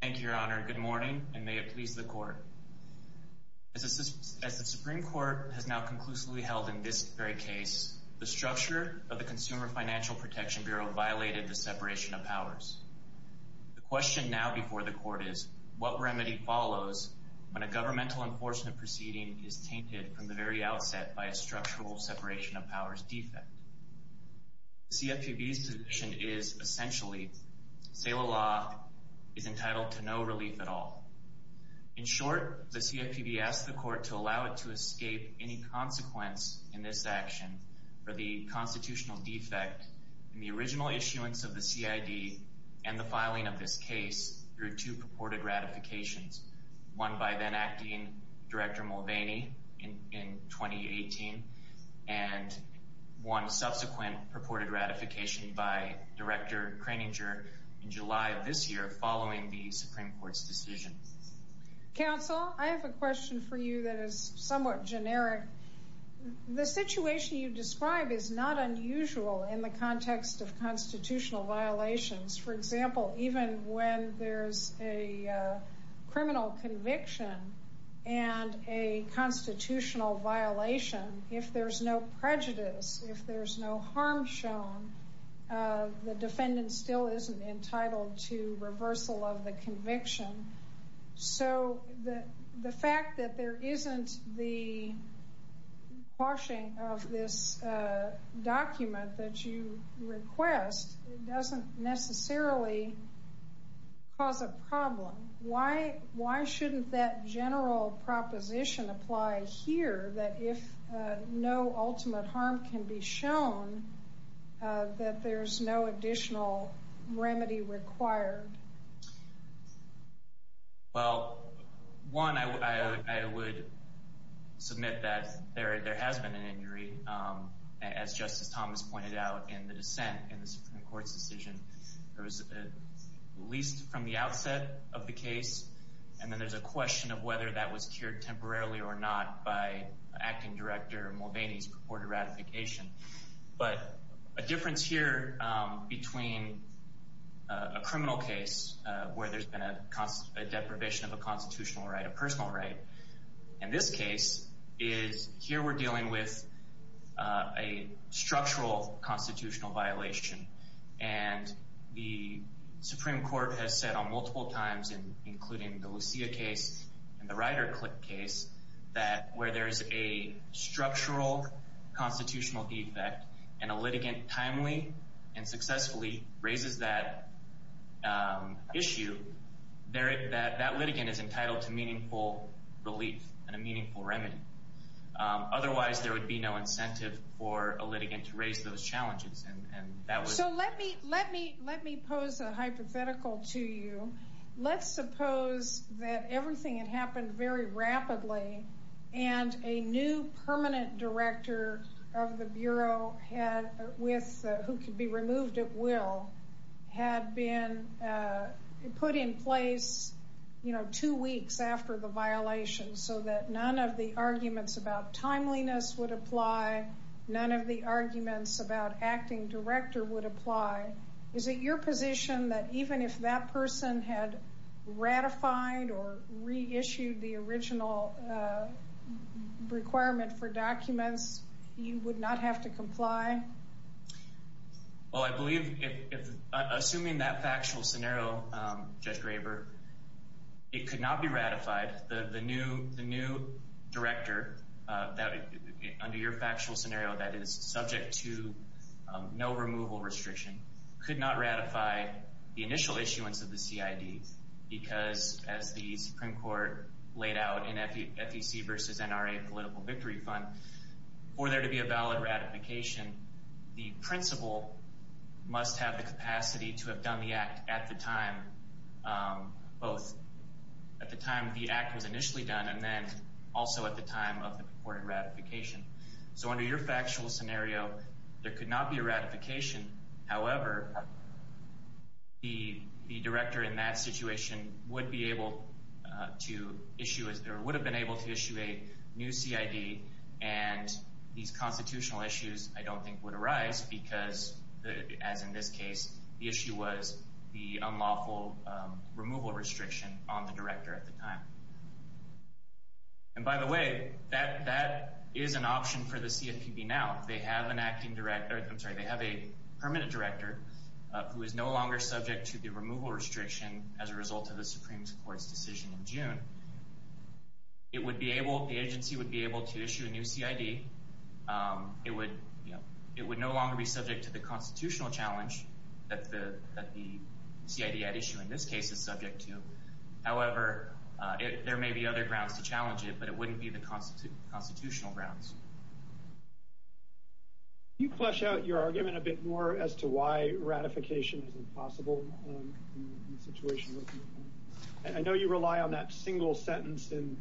Thank you, Your Honor. Good morning, and may it please the Court. As the Supreme Court has now conclusively held in this very case, the structure of the Consumer Financial Protection Bureau violated the separation of powers. The question now before the Court is, what remedy follows when a governmental enforcement proceeding is tainted from the very outset by a structural separation of powers defect? The CFPB's position is, essentially, Seila Law is entitled to no relief at all. In short, the CFPB asks the Court to allow it to escape any consequence in this action for the constitutional defect in the original issuance of the CID and the filing of this case through two purported ratifications, one by then-Acting Director Mulvaney in 2018 and one subsequent purported ratification by Director Kroeninger in July of this year following the Supreme Court's decision. Counsel, I have a question for you that is somewhat generic. The situation you describe is not unusual in the context of constitutional violations. For example, even when there's a criminal conviction and a constitutional violation, if there's no prejudice, if there's no harm shown, the defendant still isn't entitled to reversal of the conviction. So the fact that there isn't the quashing of this document that you request doesn't necessarily cause a problem. Why shouldn't that general proposition apply here that if no ultimate harm can be shown, that there's no additional remedy required? Well, one, I would submit that there has been an injury, as Justice Thomas pointed out in the dissent in the Supreme Court's decision. There was at least from the outset of the case, and then there's a question of whether that was cured temporarily or not by Acting Director Mulvaney's purported ratification. But a difference here between a criminal case where there's been a deprivation of a constitutional right, a personal right, and this case is here we're dealing with a structural constitutional violation. And the Supreme Court has said on multiple times, including the Lucia case and the Ryder-Clipp case, that where there's a structural constitutional defect and a litigant timely and successfully raises that issue, that litigant is entitled to meaningful relief and a meaningful remedy. Otherwise, there would be no incentive for a litigant to raise those challenges. So let me pose a hypothetical to you. Let's suppose that everything had happened very rapidly, and a new permanent director of the Bureau who could be removed at will had been put in place two weeks after the violation so that none of the arguments about timeliness would apply, none of the arguments about Acting Director would apply. Is it your position that even if that person had ratified or reissued the original requirement for documents, you would not have to comply? Well, I believe, assuming that factual scenario, Judge Graber, it could not be ratified. The new director, under your factual scenario, that is subject to no removal restriction, could not ratify the initial issuance of the CID because, as the Supreme Court laid out in FEC versus NRA Political Victory Fund, for there to be a valid ratification, the principal must have the capacity to have done the act at the time, both at the time the act was initially done and then also at the time of the reported ratification. So under your factual scenario, there could not be a ratification. However, the director in that situation would be able to issue, or would have been able to issue a new CID, and these constitutional issues, I don't think, would arise because, as in this case, the issue was the unlawful removal restriction on the director at the time. And by the way, that is an option for the CFPB now. If they have an Acting Director, I'm sorry, if they have a Permanent Director who is no longer subject to the removal restriction as a result of the Supreme Court's decision in June, it would be able, the agency would be able to issue a new CID. It would no longer be subject to the constitutional challenge that the CID had issued in this case is subject to. However, there may be other grounds to challenge it, but it wouldn't be the constitutional grounds. Can you flesh out your argument a bit more as to why ratification is impossible in the situation? I know you rely on that single sentence in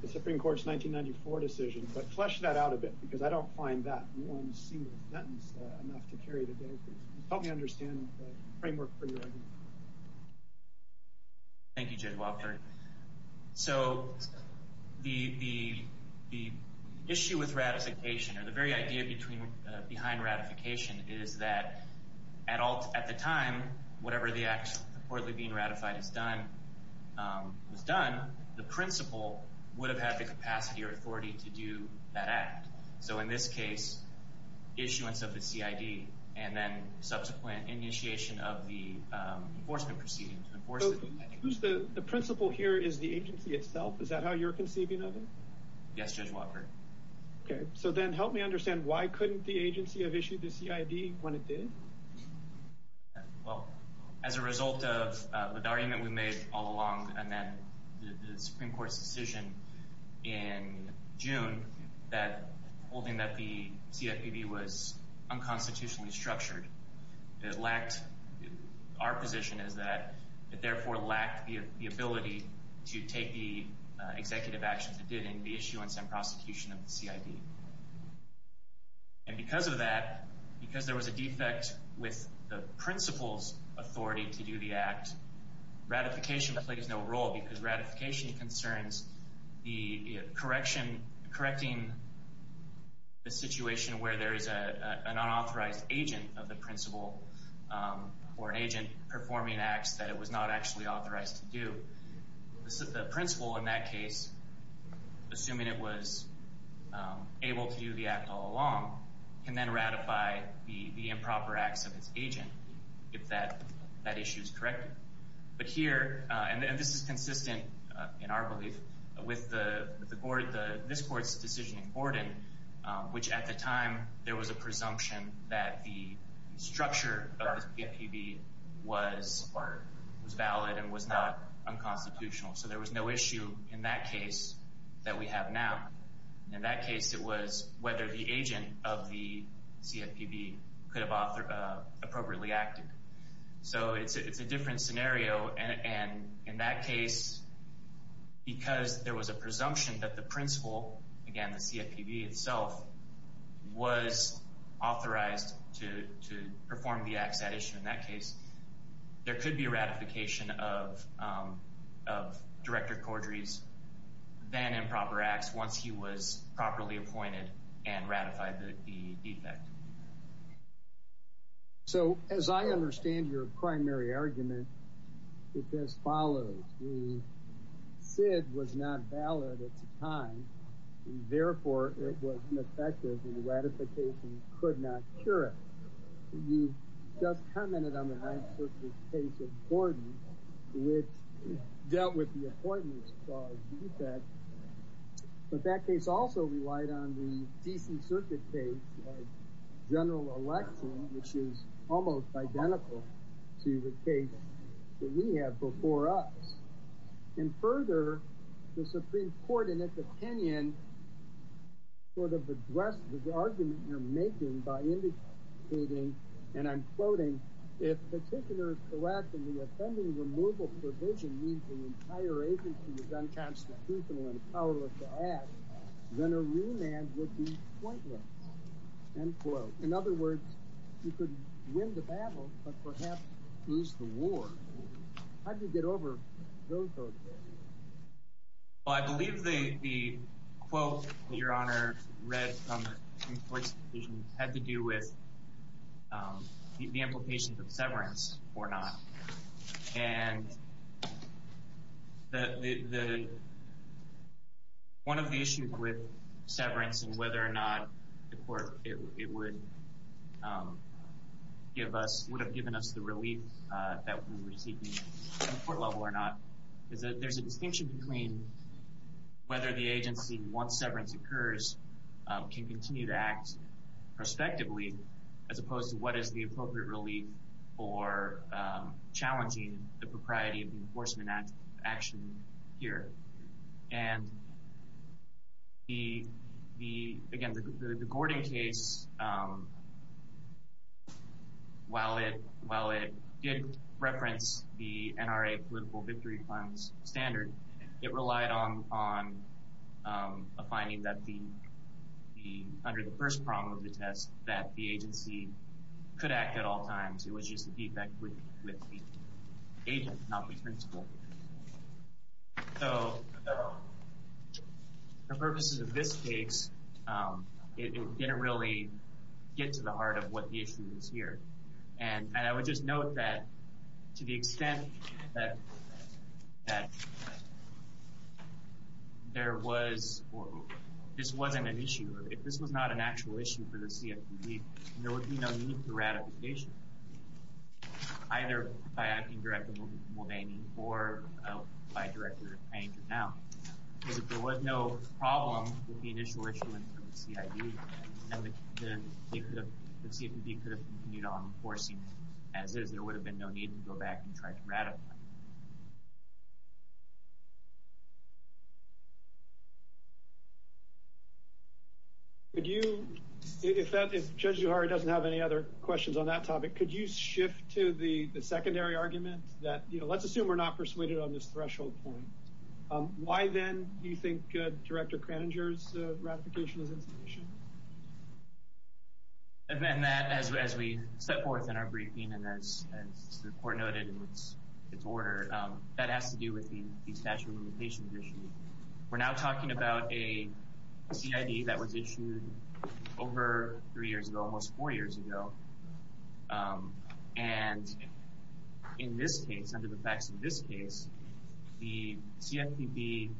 the Supreme Court's 1994 decision, but flesh that out a bit, because I don't find that one single sentence enough to carry the bill through. Help me understand the framework for your argument. Thank you, Judge Wofford. So the issue with ratification, or the very idea behind ratification, is that at the time, whatever the act reportedly being ratified was done, the principal would have had the capacity or authority to do that act. So in this case, issuance of the CID and then subsequent initiation of the enforcement proceedings. So the principal here is the agency itself? Is that how you're conceiving of it? Yes, Judge Wofford. Okay. So then help me understand why couldn't the agency have issued the CID when it did? Well, as a result of the argument we made all along and then the Supreme Court's decision in June, holding that the CFPB was unconstitutionally structured, our position is that it therefore lacked the ability to take the executive actions it did in the issuance and prosecution of the CID. And because of that, because there was a defect with the principal's authority to do the act, ratification plays no role because ratification concerns the correction, correcting the situation where there is an unauthorized agent of the principal or an agent performing acts that it was not actually authorized to do. The principal in that case, assuming it was able to do the act all along, can then ratify the improper acts of its agent if that issue is corrected. But here, and this is consistent in our belief with this Court's decision in Gordon, which at the time there was a presumption that the structure of the CFPB was valid and was not unconstitutional. So there was no issue in that case that we have now. In that case, it was whether the agent of the CFPB could have appropriately acted. So it's a different scenario, and in that case, because there was a presumption that the principal, again the CFPB itself, was authorized to perform the acts at issue in that case, there could be a ratification of Director Cordray's improper acts once he was properly appointed and ratified the defect. So as I understand your primary argument, it is as follows. The SID was not valid at the time, therefore it was ineffective and ratification could not cure it. You just commented on the Ninth Circuit case of Gordon, which dealt with the appointments caused defect. But that case also relied on the D.C. Circuit case of General Election, which is almost identical to the case that we have before us. And further, the Supreme Court in its opinion sort of addressed the argument you're making by indicating, and I'm quoting, if Petitioner's correct in the offending removal provision means the entire agency is unconstitutional and powerless to act, then a remand would be pointless, end quote. In other words, you could win the battle, but perhaps lose the war. How do you get over those arguments? Well, I believe the quote that your Honor read from the Supreme Court's decision had to do with the implications of severance or not. And one of the issues with severance and whether or not the court would have given us the relief that we were seeking at the court level or not is that there's a distinction between whether the agency, once severance occurs, can continue to act prospectively, as opposed to what is the appropriate relief for challenging the propriety of the enforcement action here. And again, the Gordon case, while it did reference the NRA political victory funds standard, it relied on a finding that under the first prong of the test that the agency could act at all times. It was just a defect with the agent, not the principal. So for purposes of this case, it didn't really get to the heart of what the issue is here. And I would just note that to the extent that there was, or this wasn't an issue, if this was not an actual issue for the CFPB, there would be no need for ratification. Either by Acting Director Mulvaney or by Director Hank or now. Because if there was no problem with the initial issuance of the CID, then the CFPB could have continued on enforcing it as is. There would have been no need to go back and try to ratify it. If Judge Zuhar doesn't have any other questions on that topic, could you shift to the secondary argument? Let's assume we're not persuaded on this threshold point. Why then do you think Director Kraninger's ratification is insufficient? As we set forth in our briefing and as the court noted in its order, that has to do with the statute of limitations issue. We're now talking about a CID that was issued over three years ago, almost four years ago. And in this case, under the facts of this case, the CFPB, to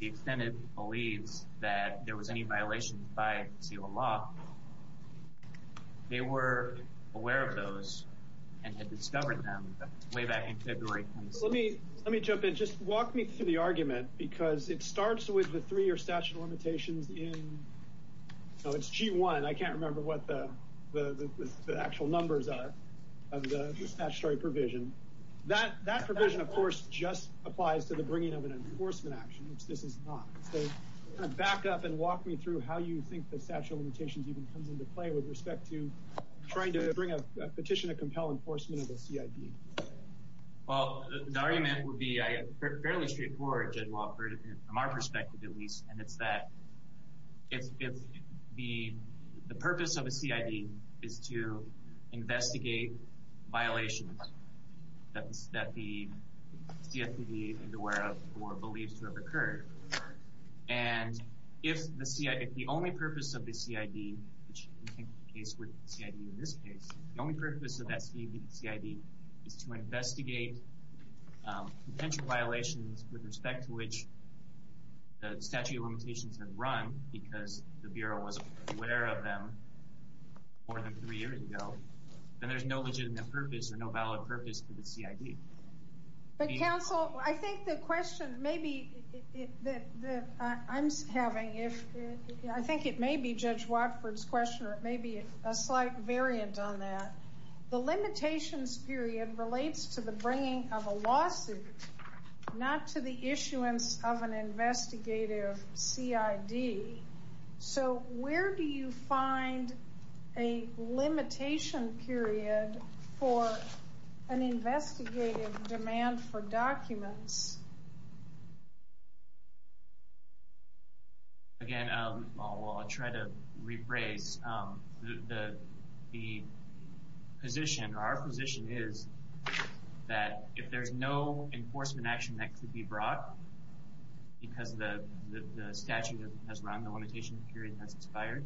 the extent it believes, that there was any violation by seal law, they were aware of those and had discovered them way back in February. Let me jump in. Just walk me through the argument, because it starts with the three-year statute of limitations in G1. I can't remember what the actual numbers are of the statutory provision. That provision, of course, just applies to the bringing of an enforcement action, which this is not. Back up and walk me through how you think the statute of limitations even comes into play with respect to trying to bring a petition to compel enforcement of a CID. The argument would be fairly straightforward, from our perspective at least, and it's that the purpose of a CID is to investigate violations that the CFPB is aware of or believes to have occurred. And if the only purpose of the CID, which is the case with CID in this case, the only purpose of that CID is to investigate potential violations with respect to which the statute of limitations had run because the Bureau was aware of them more than three years ago, then there's no legitimate purpose or no valid purpose for the CID. But, counsel, I think the question maybe that I'm having, I think it may be Judge Watford's question or it may be a slight variant on that. The limitations period relates to the bringing of a lawsuit, not to the issuance of an investigative CID. So where do you find a limitation period for an investigative demand for documents? Again, I'll try to rephrase. The position, our position is that if there's no enforcement action that could be brought because the statute has run, the limitation period has expired,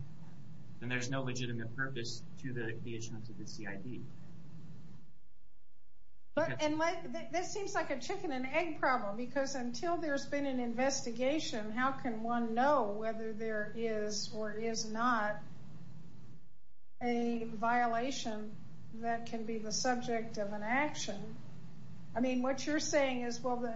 then there's no legitimate purpose to the issuance of the CID. And this seems like a chicken and egg problem because until there's been an investigation, how can one know whether there is or is not a violation that can be the subject of an action? I mean, what you're saying is, well,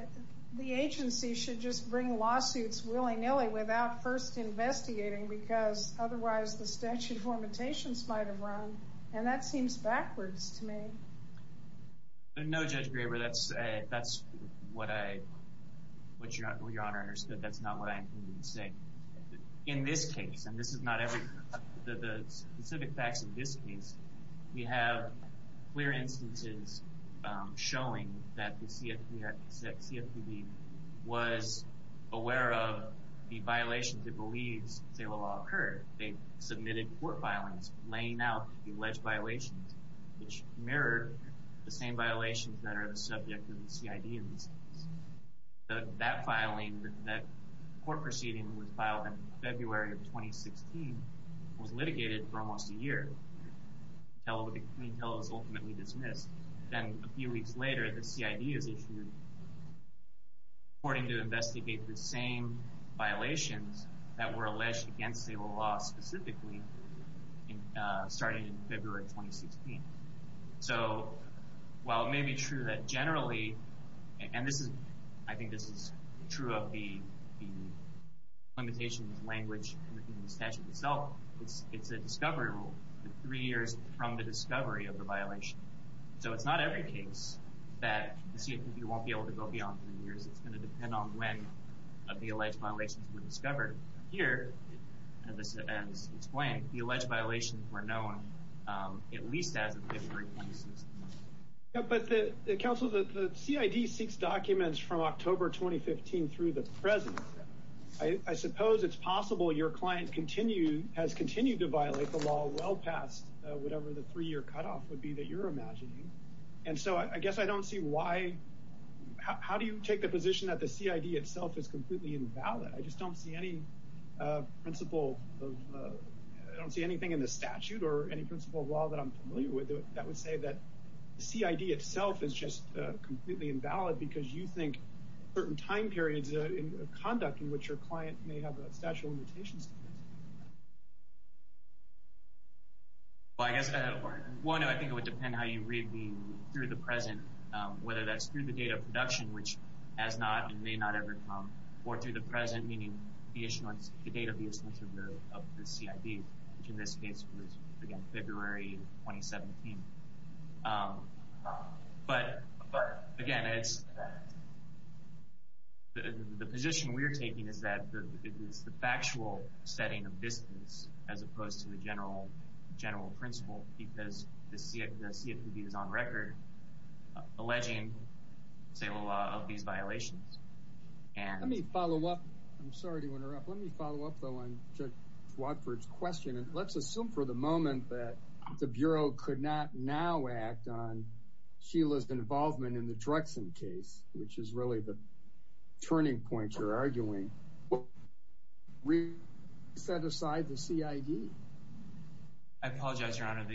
the agency should just bring lawsuits willy-nilly without first investigating because otherwise the statute of limitations might have run, and that seems backwards to me. No, Judge Graber, that's what Your Honor understood. That's not what I intended to say. In this case, and this is not every, the specific facts of this case, we have clear instances showing that the CFPB was aware of the violations it believes they will occur. They submitted court filings laying out the alleged violations which mirrored the same violations that are the subject of the CID in this case. That filing, that court proceeding that was filed in February of 2016, was litigated for almost a year. The clean tell is ultimately dismissed. Then a few weeks later, the CID is issued, reporting to investigate the same violations that were alleged against the law specifically starting in February of 2016. So while it may be true that generally, and I think this is true of the limitations language in the statute itself, it's a discovery rule. Three years from the discovery of the violation. So it's not every case that the CFPB won't be able to go beyond three years. It's going to depend on when the alleged violations were discovered. Here, at this event, it's blank. The alleged violations were known at least as of February of 2016. But counsel, the CID seeks documents from October 2015 through the present. I suppose it's possible your client has continued to violate the law well past whatever the three-year cutoff would be that you're imagining. And so I guess I don't see why, how do you take the position that the CID itself is completely invalid? I just don't see any principle of, I don't see anything in the statute or any principle of law that I'm familiar with that would say that the CID itself is just completely invalid because you think certain time periods of conduct in which your client may have a statute of limitations. Well, I guess, I don't know. I think it would depend how you read the through the present, whether that's through the date of production, which has not and may not ever come, or through the present, meaning the issuance, the date of the issuance of the CID, which in this case was, again, February 2017. But, again, it's, the position we're taking is that it is the factual setting of business as opposed to the general principle because the CFPB is on record alleging, say, a lot of these violations. Let me follow up. I'm sorry to interrupt. Let me follow up, though, on Judge Watford's question. Let's assume for the moment that the Bureau could not now act on Sheila's involvement in the Drexen case, which is really the turning point you're arguing. We set aside the CID? I apologize, Your Honor.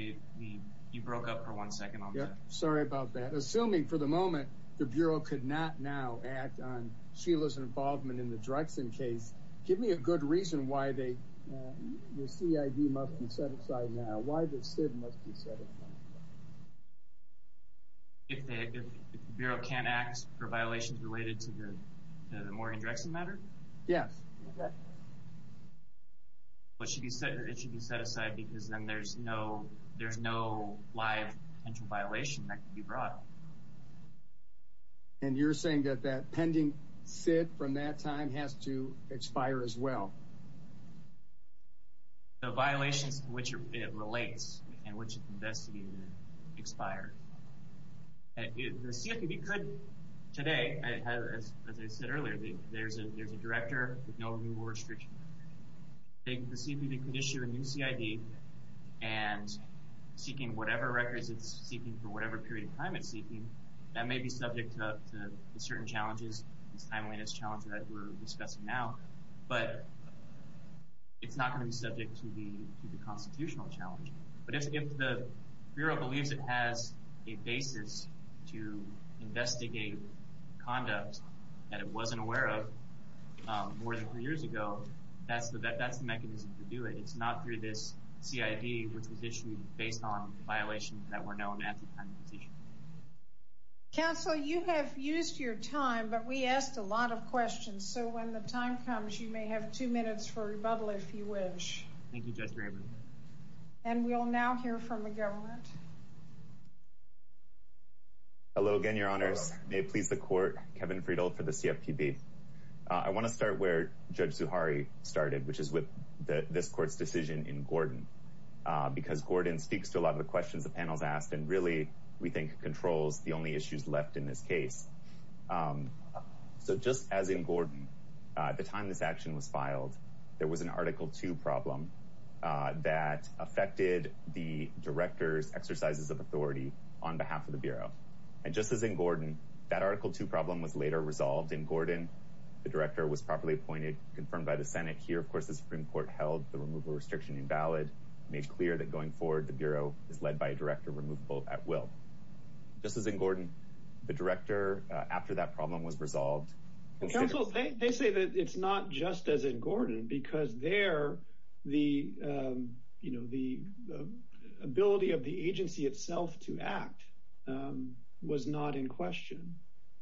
You broke up for one second on that. Sorry about that. Assuming for the moment the Bureau could not now act on Sheila's involvement in the Drexen case, give me a good reason why the CID must be set aside now, why the SID must be set aside. If the Bureau can't act for violations related to the Morgan Drexen matter? Yes. It should be set aside because then there's no, no live potential violation that could be brought up. And you're saying that that pending SID from that time has to expire as well? The violations to which it relates and which it's investigated expire. The CFPB could today, as I said earlier, there's a director with no removal restriction. The CFPB could issue a new CID and seeking whatever records it's seeking for whatever period of time it's seeking, that may be subject to certain challenges, this timeliness challenge that we're discussing now, but it's not going to be subject to the constitutional challenge. But if the Bureau believes it has a basis to investigate conduct that it wasn't aware of more than four years ago, that's the mechanism to do it. It's not through this CID, which was issued based on violations that were known at the time it was issued. Counsel, you have used your time, but we asked a lot of questions. So when the time comes, you may have two minutes for rebuttal if you wish. Thank you, Judge Rayburn. And we'll now hear from the government. Hello again, Your Honors. May it please the Court, Kevin Friedel for the CFPB. I want to start where Judge Zuhari started, which is with this Court's decision in Gordon, because Gordon speaks to a lot of the questions the panel's asked and really, we think, controls the only issues left in this case. So just as in Gordon, at the time this action was filed, there was an Article II problem that affected the director's exercises of authority on behalf of the Bureau. And just as in Gordon, that Article II problem was later resolved in Gordon. The director was properly appointed, confirmed by the Senate. Here, of course, the Supreme Court held the removal restriction invalid, made clear that going forward, the Bureau is led by a director, removable at will. Just as in Gordon, the director, after that problem was resolved... Counsel, they say that it's not just as in Gordon, because there, the ability of the agency itself to act was not in question.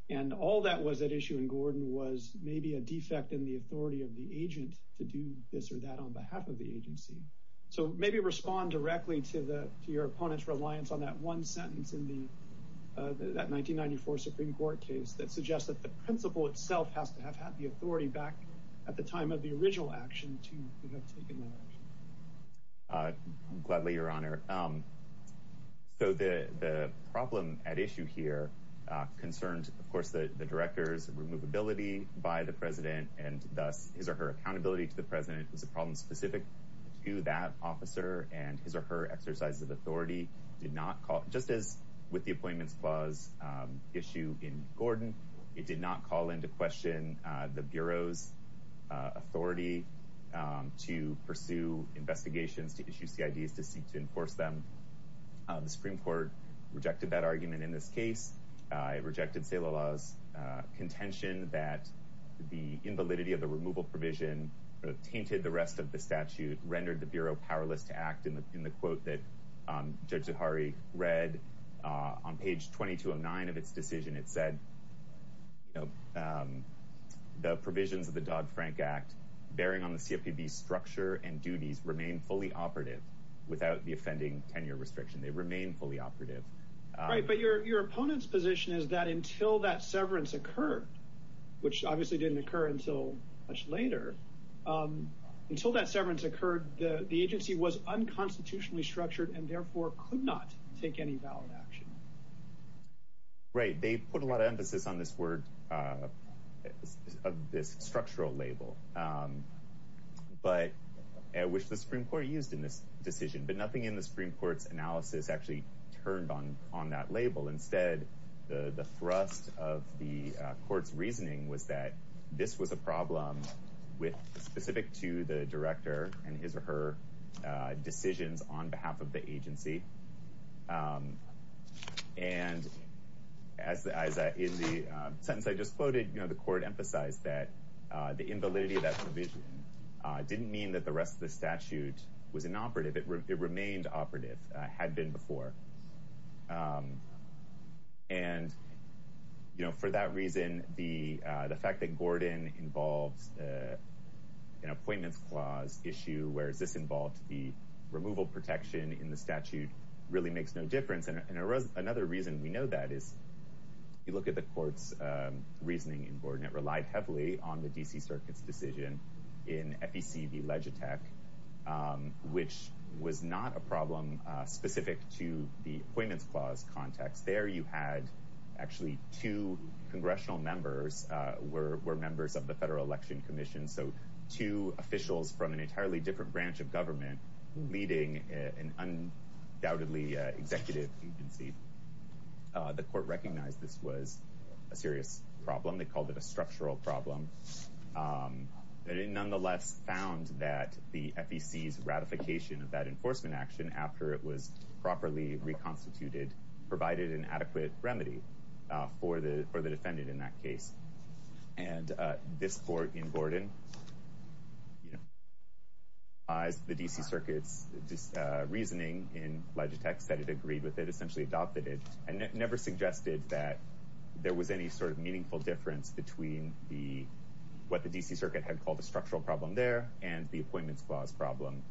And all that was at issue in Gordon was maybe a defect in the authority of the agent to do this or that on behalf of the agency. So maybe respond directly to your opponent's reliance on that one sentence in that 1994 Supreme Court case that suggests that the principal itself has to have had the authority back at the time of the original action to have taken that action. Gladly, Your Honor. So the problem at issue here concerned, of course, the director's removability by the president and thus his or her accountability to the president was a problem specific to that officer and his or her exercises of authority did not call... Just as with the Appointments Clause issue in Gordon, it did not call into question the Bureau's authority to pursue investigations, to issue CIDs, to seek to enforce them. The Supreme Court rejected that argument in this case. It rejected Celalah's contention that the invalidity of the removal provision tainted the rest of the statute, rendered the Bureau powerless to act. In the quote that Judge Zahari read on page 2209 of its decision, it said, you know, the provisions of the Dodd-Frank Act bearing on the CFPB's structure and duties remain fully operative without the offending tenure restriction. They remain fully operative. Right, but your opponent's position is that until that severance occurred, which obviously didn't occur until much later, until that severance occurred, the agency was unconstitutionally structured and therefore could not take any valid action. Right, they put a lot of emphasis on this word, this structural label. But, which the Supreme Court used in this decision. But nothing in the Supreme Court's analysis actually turned on that label. Instead, the thrust of the Court's reasoning was that this was a problem specific to the director and his or her decisions on behalf of the agency. And as in the sentence I just quoted, the Court emphasized that the invalidity of that provision didn't mean that the rest of the statute was inoperative. It remained operative, had been before. And, you know, for that reason, the fact that Gordon involves an appointments clause issue, whereas this involved the removal protection in the statute, really makes no difference. And another reason we know that is, you look at the Court's reasoning in Gordon, it relied heavily on the D.C. Circuit's decision in FEC v. Legitech, which was not a problem specific to the appointments clause context. There you had actually two congressional members were members of the Federal Election Commission. So two officials from an entirely different branch of government leading an undoubtedly executive agency. The Court recognized this was a serious problem. They called it a structural problem. And it nonetheless found that the FEC's ratification of that enforcement action after it was properly reconstituted provided an adequate remedy for the defendant in that case. And this Court in Gordon, the D.C. Circuit's reasoning in Legitech said it agreed with it, essentially adopted it, and never suggested that there was any sort of meaningful difference between what the D.C. Circuit had called a structural problem there and the appointments clause problem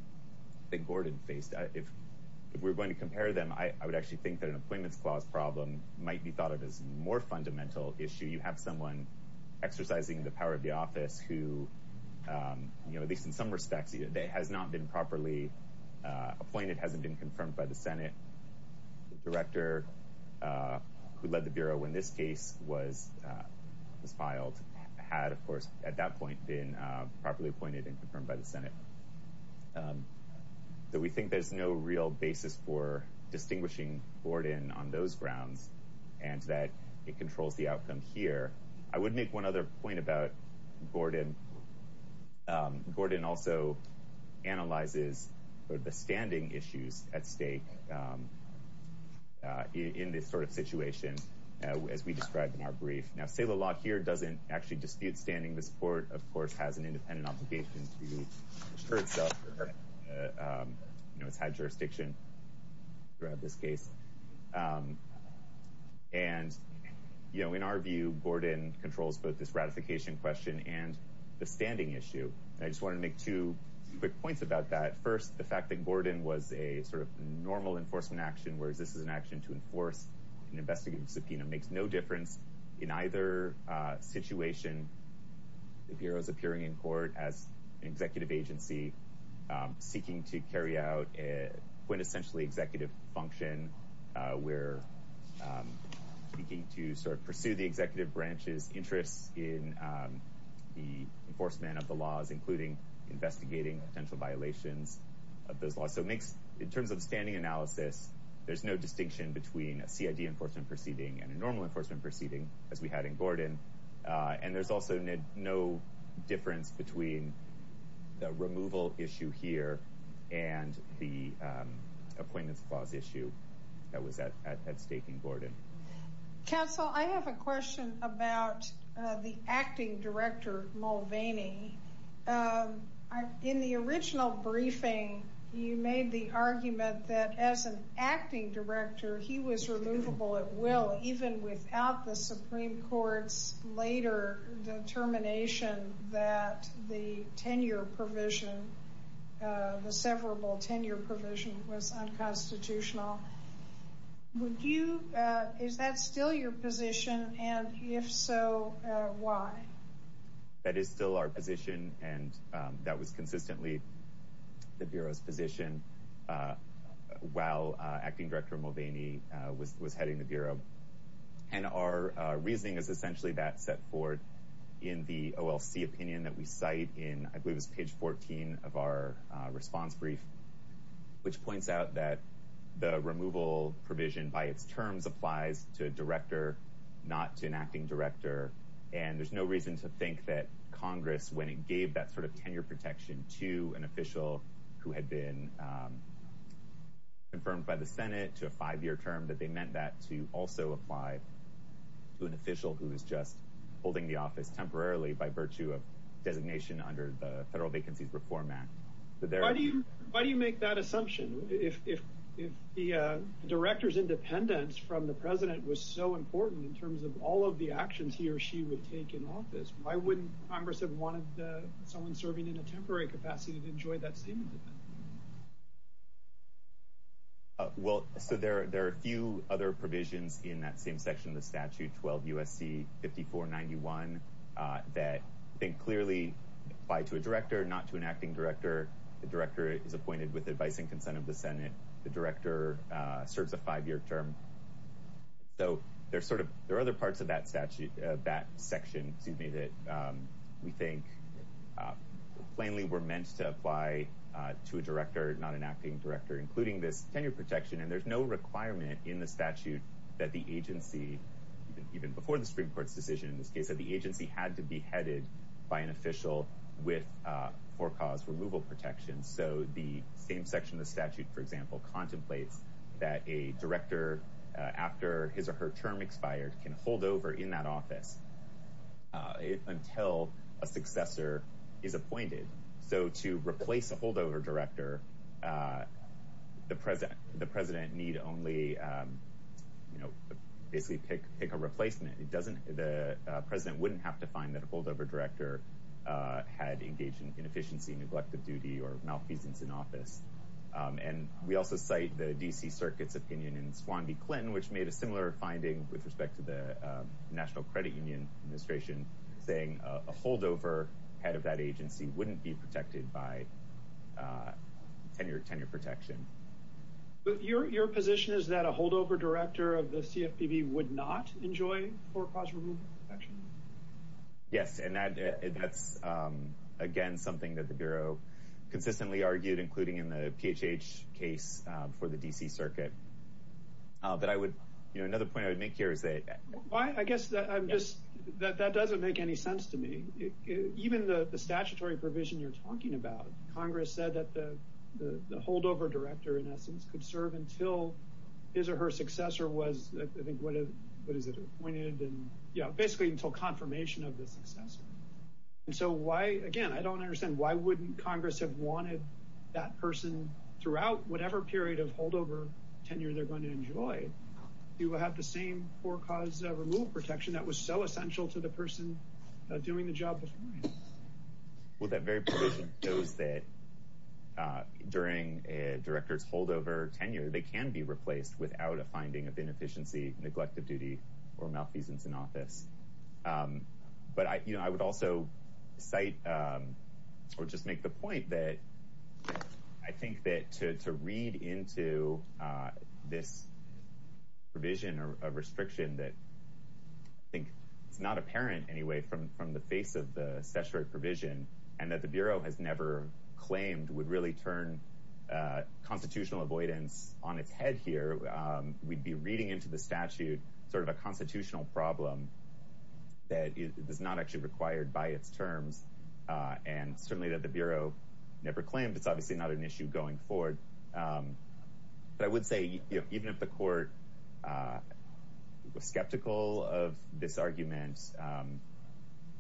that Gordon faced. If we're going to compare them, I would actually think that an appointments clause problem might be thought of as a more fundamental issue. You have someone exercising the power of the office who, at least in some respects, has not been properly appointed, hasn't been confirmed by the Senate. The director who led the Bureau when this case was filed had, of course, at that point, been properly appointed and confirmed by the Senate. So we think there's no real basis for distinguishing Gordon on those grounds and that it controls the outcome here. I would make one other point about Gordon. Gordon also analyzes the standing issues at stake in this sort of situation, as we described in our brief. Now, say the law here doesn't actually dispute standing. This Court, of course, has an independent obligation to assure itself that it's had jurisdiction throughout this case. And in our view, Gordon controls both this ratification question and the standing issue. I just want to make two quick points about that. First, the fact that Gordon was a sort of normal enforcement action, whereas this is an action to enforce an investigative subpoena, makes no difference in either situation. The Bureau is appearing in court as an executive agency seeking to carry out quintessentially executive function. We're seeking to sort of pursue the executive branch's interests in the enforcement of the laws, including investigating potential violations of those laws. So in terms of standing analysis, there's no distinction between a CID enforcement proceeding and a normal enforcement proceeding, as we had in Gordon. And there's also no difference between the removal issue here and the appointments clause issue that was at stake in Gordon. Counsel, I have a question about the acting director, Mulvaney. In the original briefing, you made the argument that, as an acting director, he was removable at will, even without the Supreme Court's later determination that the tenure provision, the severable tenure provision, was unconstitutional. Is that still your position, and if so, why? That is still our position, and that was consistently the Bureau's position while acting director Mulvaney was heading the Bureau. And our reasoning is essentially that set forward in the OLC opinion that we cite in, I believe it was page 14 of our response brief, which points out that the removal provision by its terms applies to a director, not to an acting director. And there's no reason to think that Congress, when it gave that sort of tenure protection to an official who had been confirmed by the Senate to a five-year term, that they meant that to also apply to an official who was just holding the office temporarily by virtue of designation under the Federal Vacancies Reform Act. Why do you make that assumption? If the director's independence from the president was so important in terms of all of the actions he or she would take in office, why wouldn't Congress have wanted someone serving in a temporary capacity to enjoy that same independence? Well, so there are a few other provisions in that same section of the statute, 12 U.S.C. 5491, that clearly apply to a director, not to an acting director. The director is appointed with advice and consent of the Senate. The director serves a five-year term. So there are other parts of that section, excuse me, that we think plainly were meant to apply to a director, not an acting director, including this tenure protection. And there's no requirement in the statute that the agency, even before the Supreme Court's decision in this case, that the agency had to be headed by an official with for-cause removal protection. So the same section of the statute, for example, contemplates that a director, after his or her term expired, can hold over in that office until a successor is appointed. So to replace a holdover director, the president need only basically pick a replacement. The president wouldn't have to find that a holdover director had engaged in inefficiency, neglect of duty, or malfeasance in office. And we also cite the D.C. Circuit's opinion in Swan v. Clinton, which made a similar finding with respect to the National Credit Union administration, saying a holdover head of that agency wouldn't be protected by tenure protection. But your position is that a holdover director of the CFPB would not enjoy for-cause removal protection? Yes, and that's, again, something that the Bureau consistently argued, including in the PHH case before the D.C. Circuit. Another point I would make here is that... I guess that doesn't make any sense to me. Even the statutory provision you're talking about, Congress said that the holdover director, in essence, could serve until his or her successor was, I think, what is it, appointed? Yeah, basically until confirmation of the successor. And so why, again, I don't understand, why wouldn't Congress have wanted that person throughout whatever period of holdover tenure they're going to enjoy to have the same for-cause removal protection that was so essential to the person doing the job before him? Well, that very provision shows that during a director's holdover tenure, they can be replaced without a finding of inefficiency, neglect of duty, or malfeasance in office. But I would also cite or just make the point that I think that to read into this provision or restriction that I think it's not apparent anyway from the face of the statutory provision, and that the Bureau has never claimed would really turn constitutional avoidance on its head here, we'd be reading into the statute sort of a constitutional problem that is not actually required by its terms. And certainly that the Bureau never claimed, it's obviously not an issue going forward. But I would say even if the court was skeptical of this argument,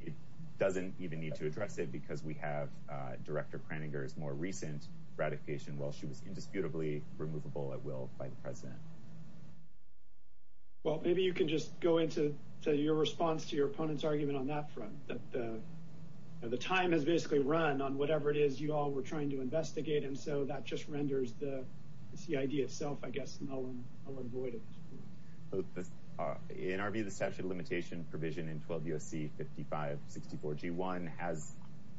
it doesn't even need to address it because we have Director Kraninger's more recent ratification while she was indisputably removable at will by the President. Well, maybe you can just go into your response to your opponent's argument on that front. The time has basically run on whatever it is you all were trying to address the CID itself, I guess, and I'll avoid it. In our view, the statute of limitation provision in 12 U.S.C. 5564G1 has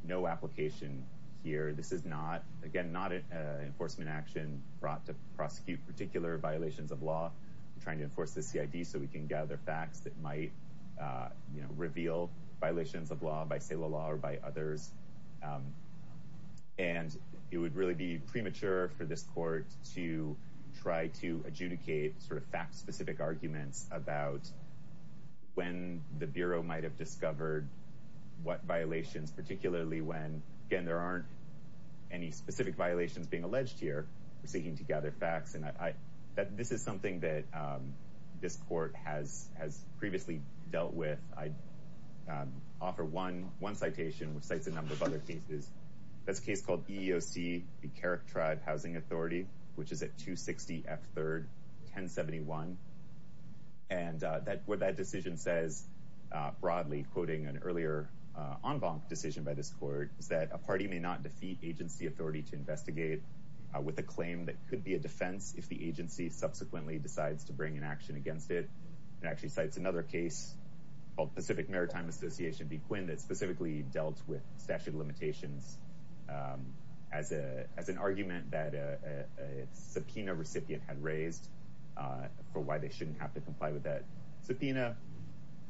no application here. This is not, again, not an enforcement action brought to prosecute particular violations of law. We're trying to enforce the CID so we can gather facts that might reveal violations of law by sale of law or by others. And it would really be premature for this court to try to adjudicate sort of fact-specific arguments about when the Bureau might have discovered what violations, particularly when, again, there aren't any specific violations being alleged here. We're seeking to gather facts. And this is something that this court has previously dealt with. I'd offer one citation, which cites a number of other cases. That's a case called EEOC, the Carrick Tribe Housing Authority, which is at 260 F3rd 1071. And what that decision says, broadly quoting an earlier en banc decision by this court, is that a party may not defeat agency authority to investigate with a claim that could be a defense if the agency subsequently decides to bring an action against it. It actually cites another case called Pacific Maritime Association B. Quinn that specifically dealt with statute of limitations as an argument that a subpoena recipient had raised for why they shouldn't have to comply with that subpoena.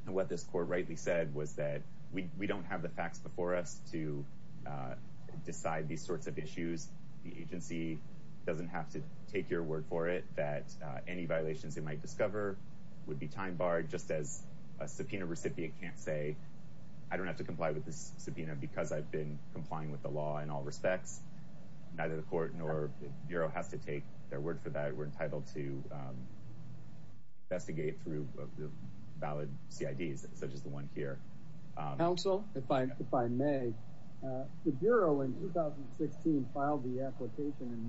And what this court rightly said was that we don't have the facts before us to decide these sorts of issues. The agency doesn't have to take your word for it that any violations they might discover would be time barred, just as a subpoena recipient can't say, I don't have to comply with this subpoena because I've been complying with the law in all respects. Neither the court nor the Bureau has to take their word for that. We're entitled to investigate through valid CIDs, such as the one here. Counsel, if I may, the Bureau in 2016 filed the application in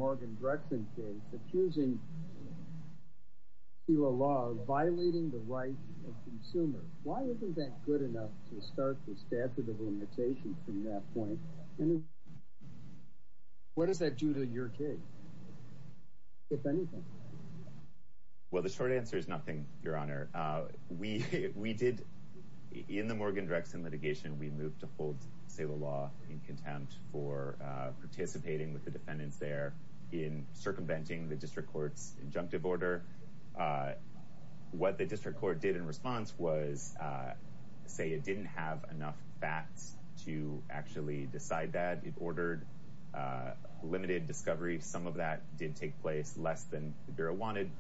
violating the rights of consumers. Why isn't that good enough to start the statute of limitations from that point? What does that do to your case, if anything? Well, the short answer is nothing, Your Honor. We did, in the Morgan-Drexen litigation, we moved to hold Saylo Law in contempt for participating with the defendants there in circumventing the district court's injunctive order. What the district court did in response was say it didn't have enough facts to actually decide that. It ordered limited discovery. Some of that did take place less than the Bureau wanted,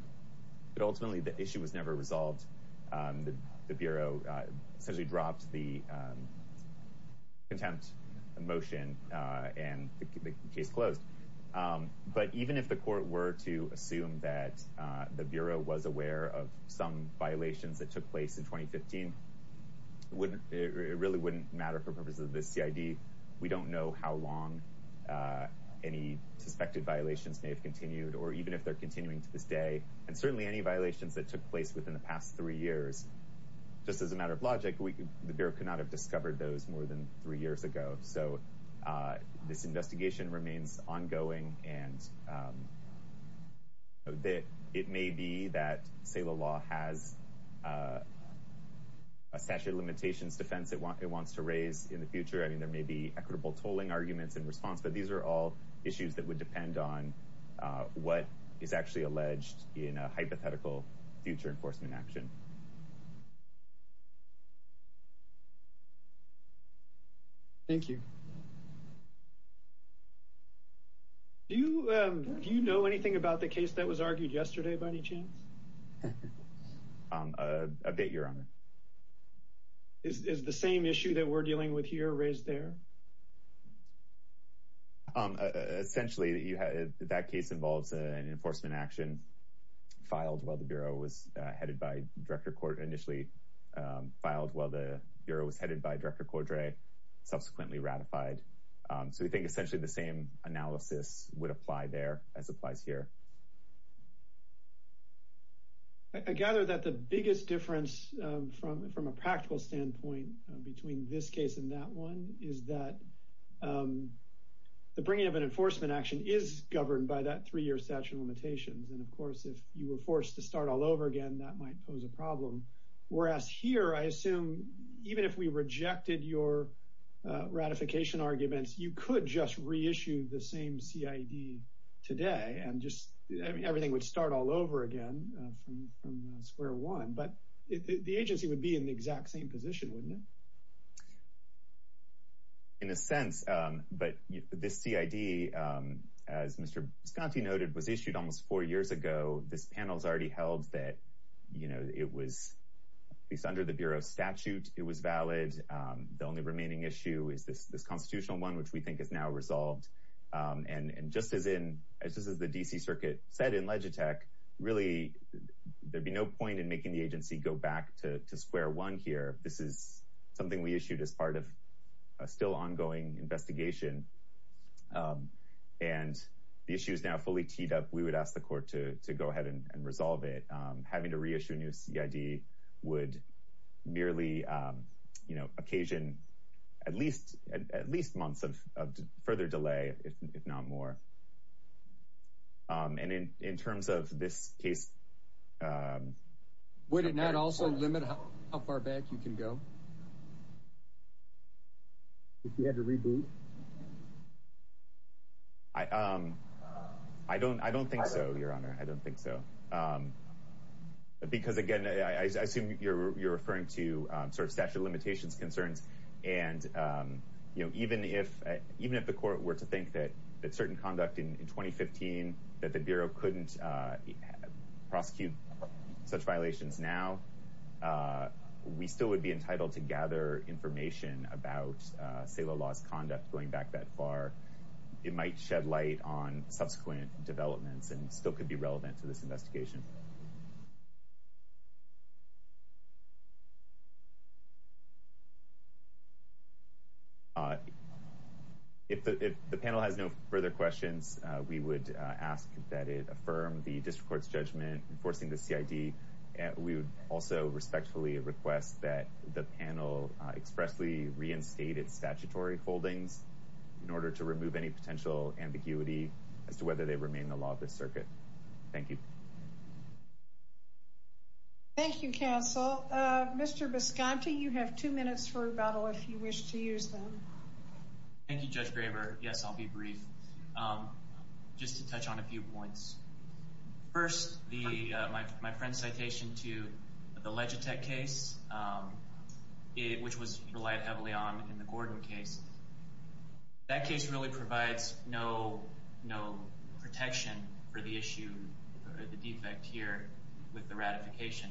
but ultimately the issue was never resolved. The Bureau essentially dropped the contempt motion and the case closed. But even if the court were to assume that the Bureau was aware of some violations that took place in 2015, it really wouldn't matter for purposes of this CID. We don't know how long any suspected violations may have continued, or even if they're continuing to this day. And certainly any violations that took place within the past three years, just as a matter of logic, the Bureau could not have discovered those more than three years ago. So this investigation remains ongoing, and it may be that Saylo Law has a statute of limitations defense it wants to raise in the future. I mean, there may be equitable tolling arguments in response, but these are all issues that would depend on what is actually alleged in a hypothetical future enforcement action. Thank you. Do you know anything about the case that was argued yesterday, by any chance? I beg your honor. Is the same issue that we're dealing with here raised there? Essentially, that case involves an enforcement action filed while the Bureau was headed by Director Cordray, initially filed while the Bureau was headed by Director Cordray, subsequently ratified. So we think essentially the same analysis would apply there as applies here. I gather that the biggest difference from a practical standpoint between this case and that one is that the bringing of an enforcement action is governed by that three-year statute of limitations. And of course, if you were forced to start all over again, that might pose a problem. Whereas here, I assume even if we rejected your ratification arguments, you could just reissue the same CID today and just everything would start all over again from square one. But the agency would be in the exact same position, wouldn't it? In a sense, but this CID, as Mr. Bisconti noted, was issued almost four years ago. This panel has already held that it was, at least under the Bureau's statute, it was valid. The only remaining issue is this constitutional one, which we think is now resolved. And just as the D.C. Circuit said in Legitech, really there'd be no point in making the agency go back to square one here. This is something we issued as part of a still ongoing investigation. And the issue is now fully teed up. We would ask the court to go ahead and resolve it. Having to reissue a new CID would merely occasion at least months of further delay, if not more. And in terms of this case... Would it not also limit how far back you can go? If you had to reboot? I don't think so, Your Honor. I don't think so. Because again, I assume you're referring to sort of statute of limitations concerns. And even if the court were to think that certain conduct in 2015, that the Bureau couldn't prosecute such violations now, we still would be entitled to gather information about Saylo Law's conduct going back that far. It might shed light on subsequent developments and still could be relevant to this investigation. If the panel has no further questions, we would ask that it affirm the District Court's judgment enforcing the CID. We would also respectfully request that the panel expressly reinstate its statutory holdings in order to remove any potential ambiguity as to whether they remain the law of the circuit. Thank you. Thank you, counsel. Mr. Bisconti, you have two minutes for rebuttal if you wish to use them. Thank you, Judge Graber. Yes, I'll be brief. Just to touch on a few points. First, my friend's citation to the Legitech case, which was relied heavily on in the Gordon case. That case really provides no protection for the issue, the defect here with the ratification.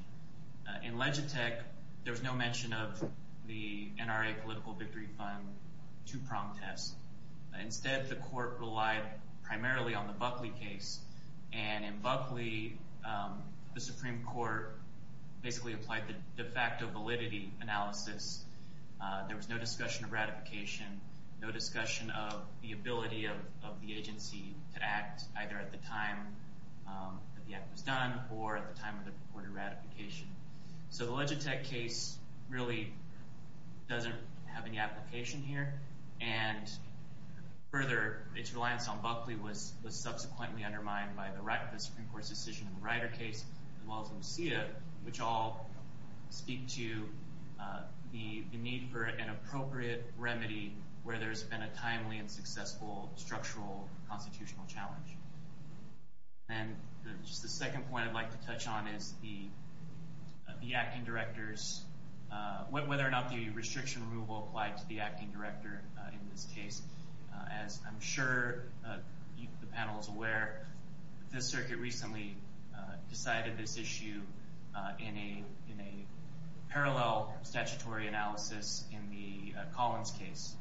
In Legitech, there was no mention of the NRA Political Victory Fund two-prong test. Instead, the court relied primarily on the Buckley case. In Buckley, the Supreme Court basically applied the de facto validity analysis. There was no discussion of ratification, no discussion of the ability of the agency to act either at the time that the act was done or at the time of the reported ratification. The Legitech case really doesn't have any application here. Further, its reliance on Buckley was subsequently undermined by the Supreme Court's decision in the Ryder case as well as Lucia, which all speak to the need for an appropriate remedy where there's been a timely and successful structural constitutional challenge. Then just the second point I'd like to touch on is the acting directors, whether or not the restriction removal applied to the acting director in this case. As I'm sure the panel is aware, the circuit recently decided this issue in a parallel statutory analysis in the Collins case.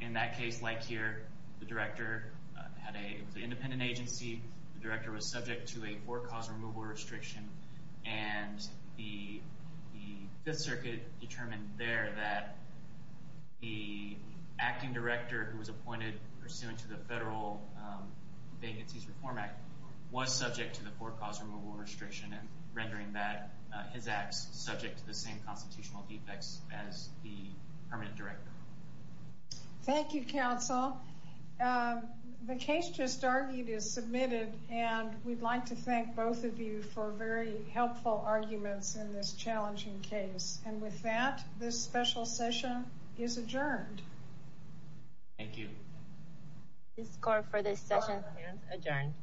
In that case, like here, the director had an independent agency. The director was subject to a four-cause removal restriction. The Fifth Circuit determined there that the acting director who was appointed pursuant to the Federal Vacancies Reform Act was subject to the four-cause removal restriction and rendering that his acts subject to the same permanent director. Thank you, counsel. The case just argued is submitted, and we'd like to thank both of you for very helpful arguments in this challenging case. With that, this special session is adjourned. Thank you. This court for this session adjourned.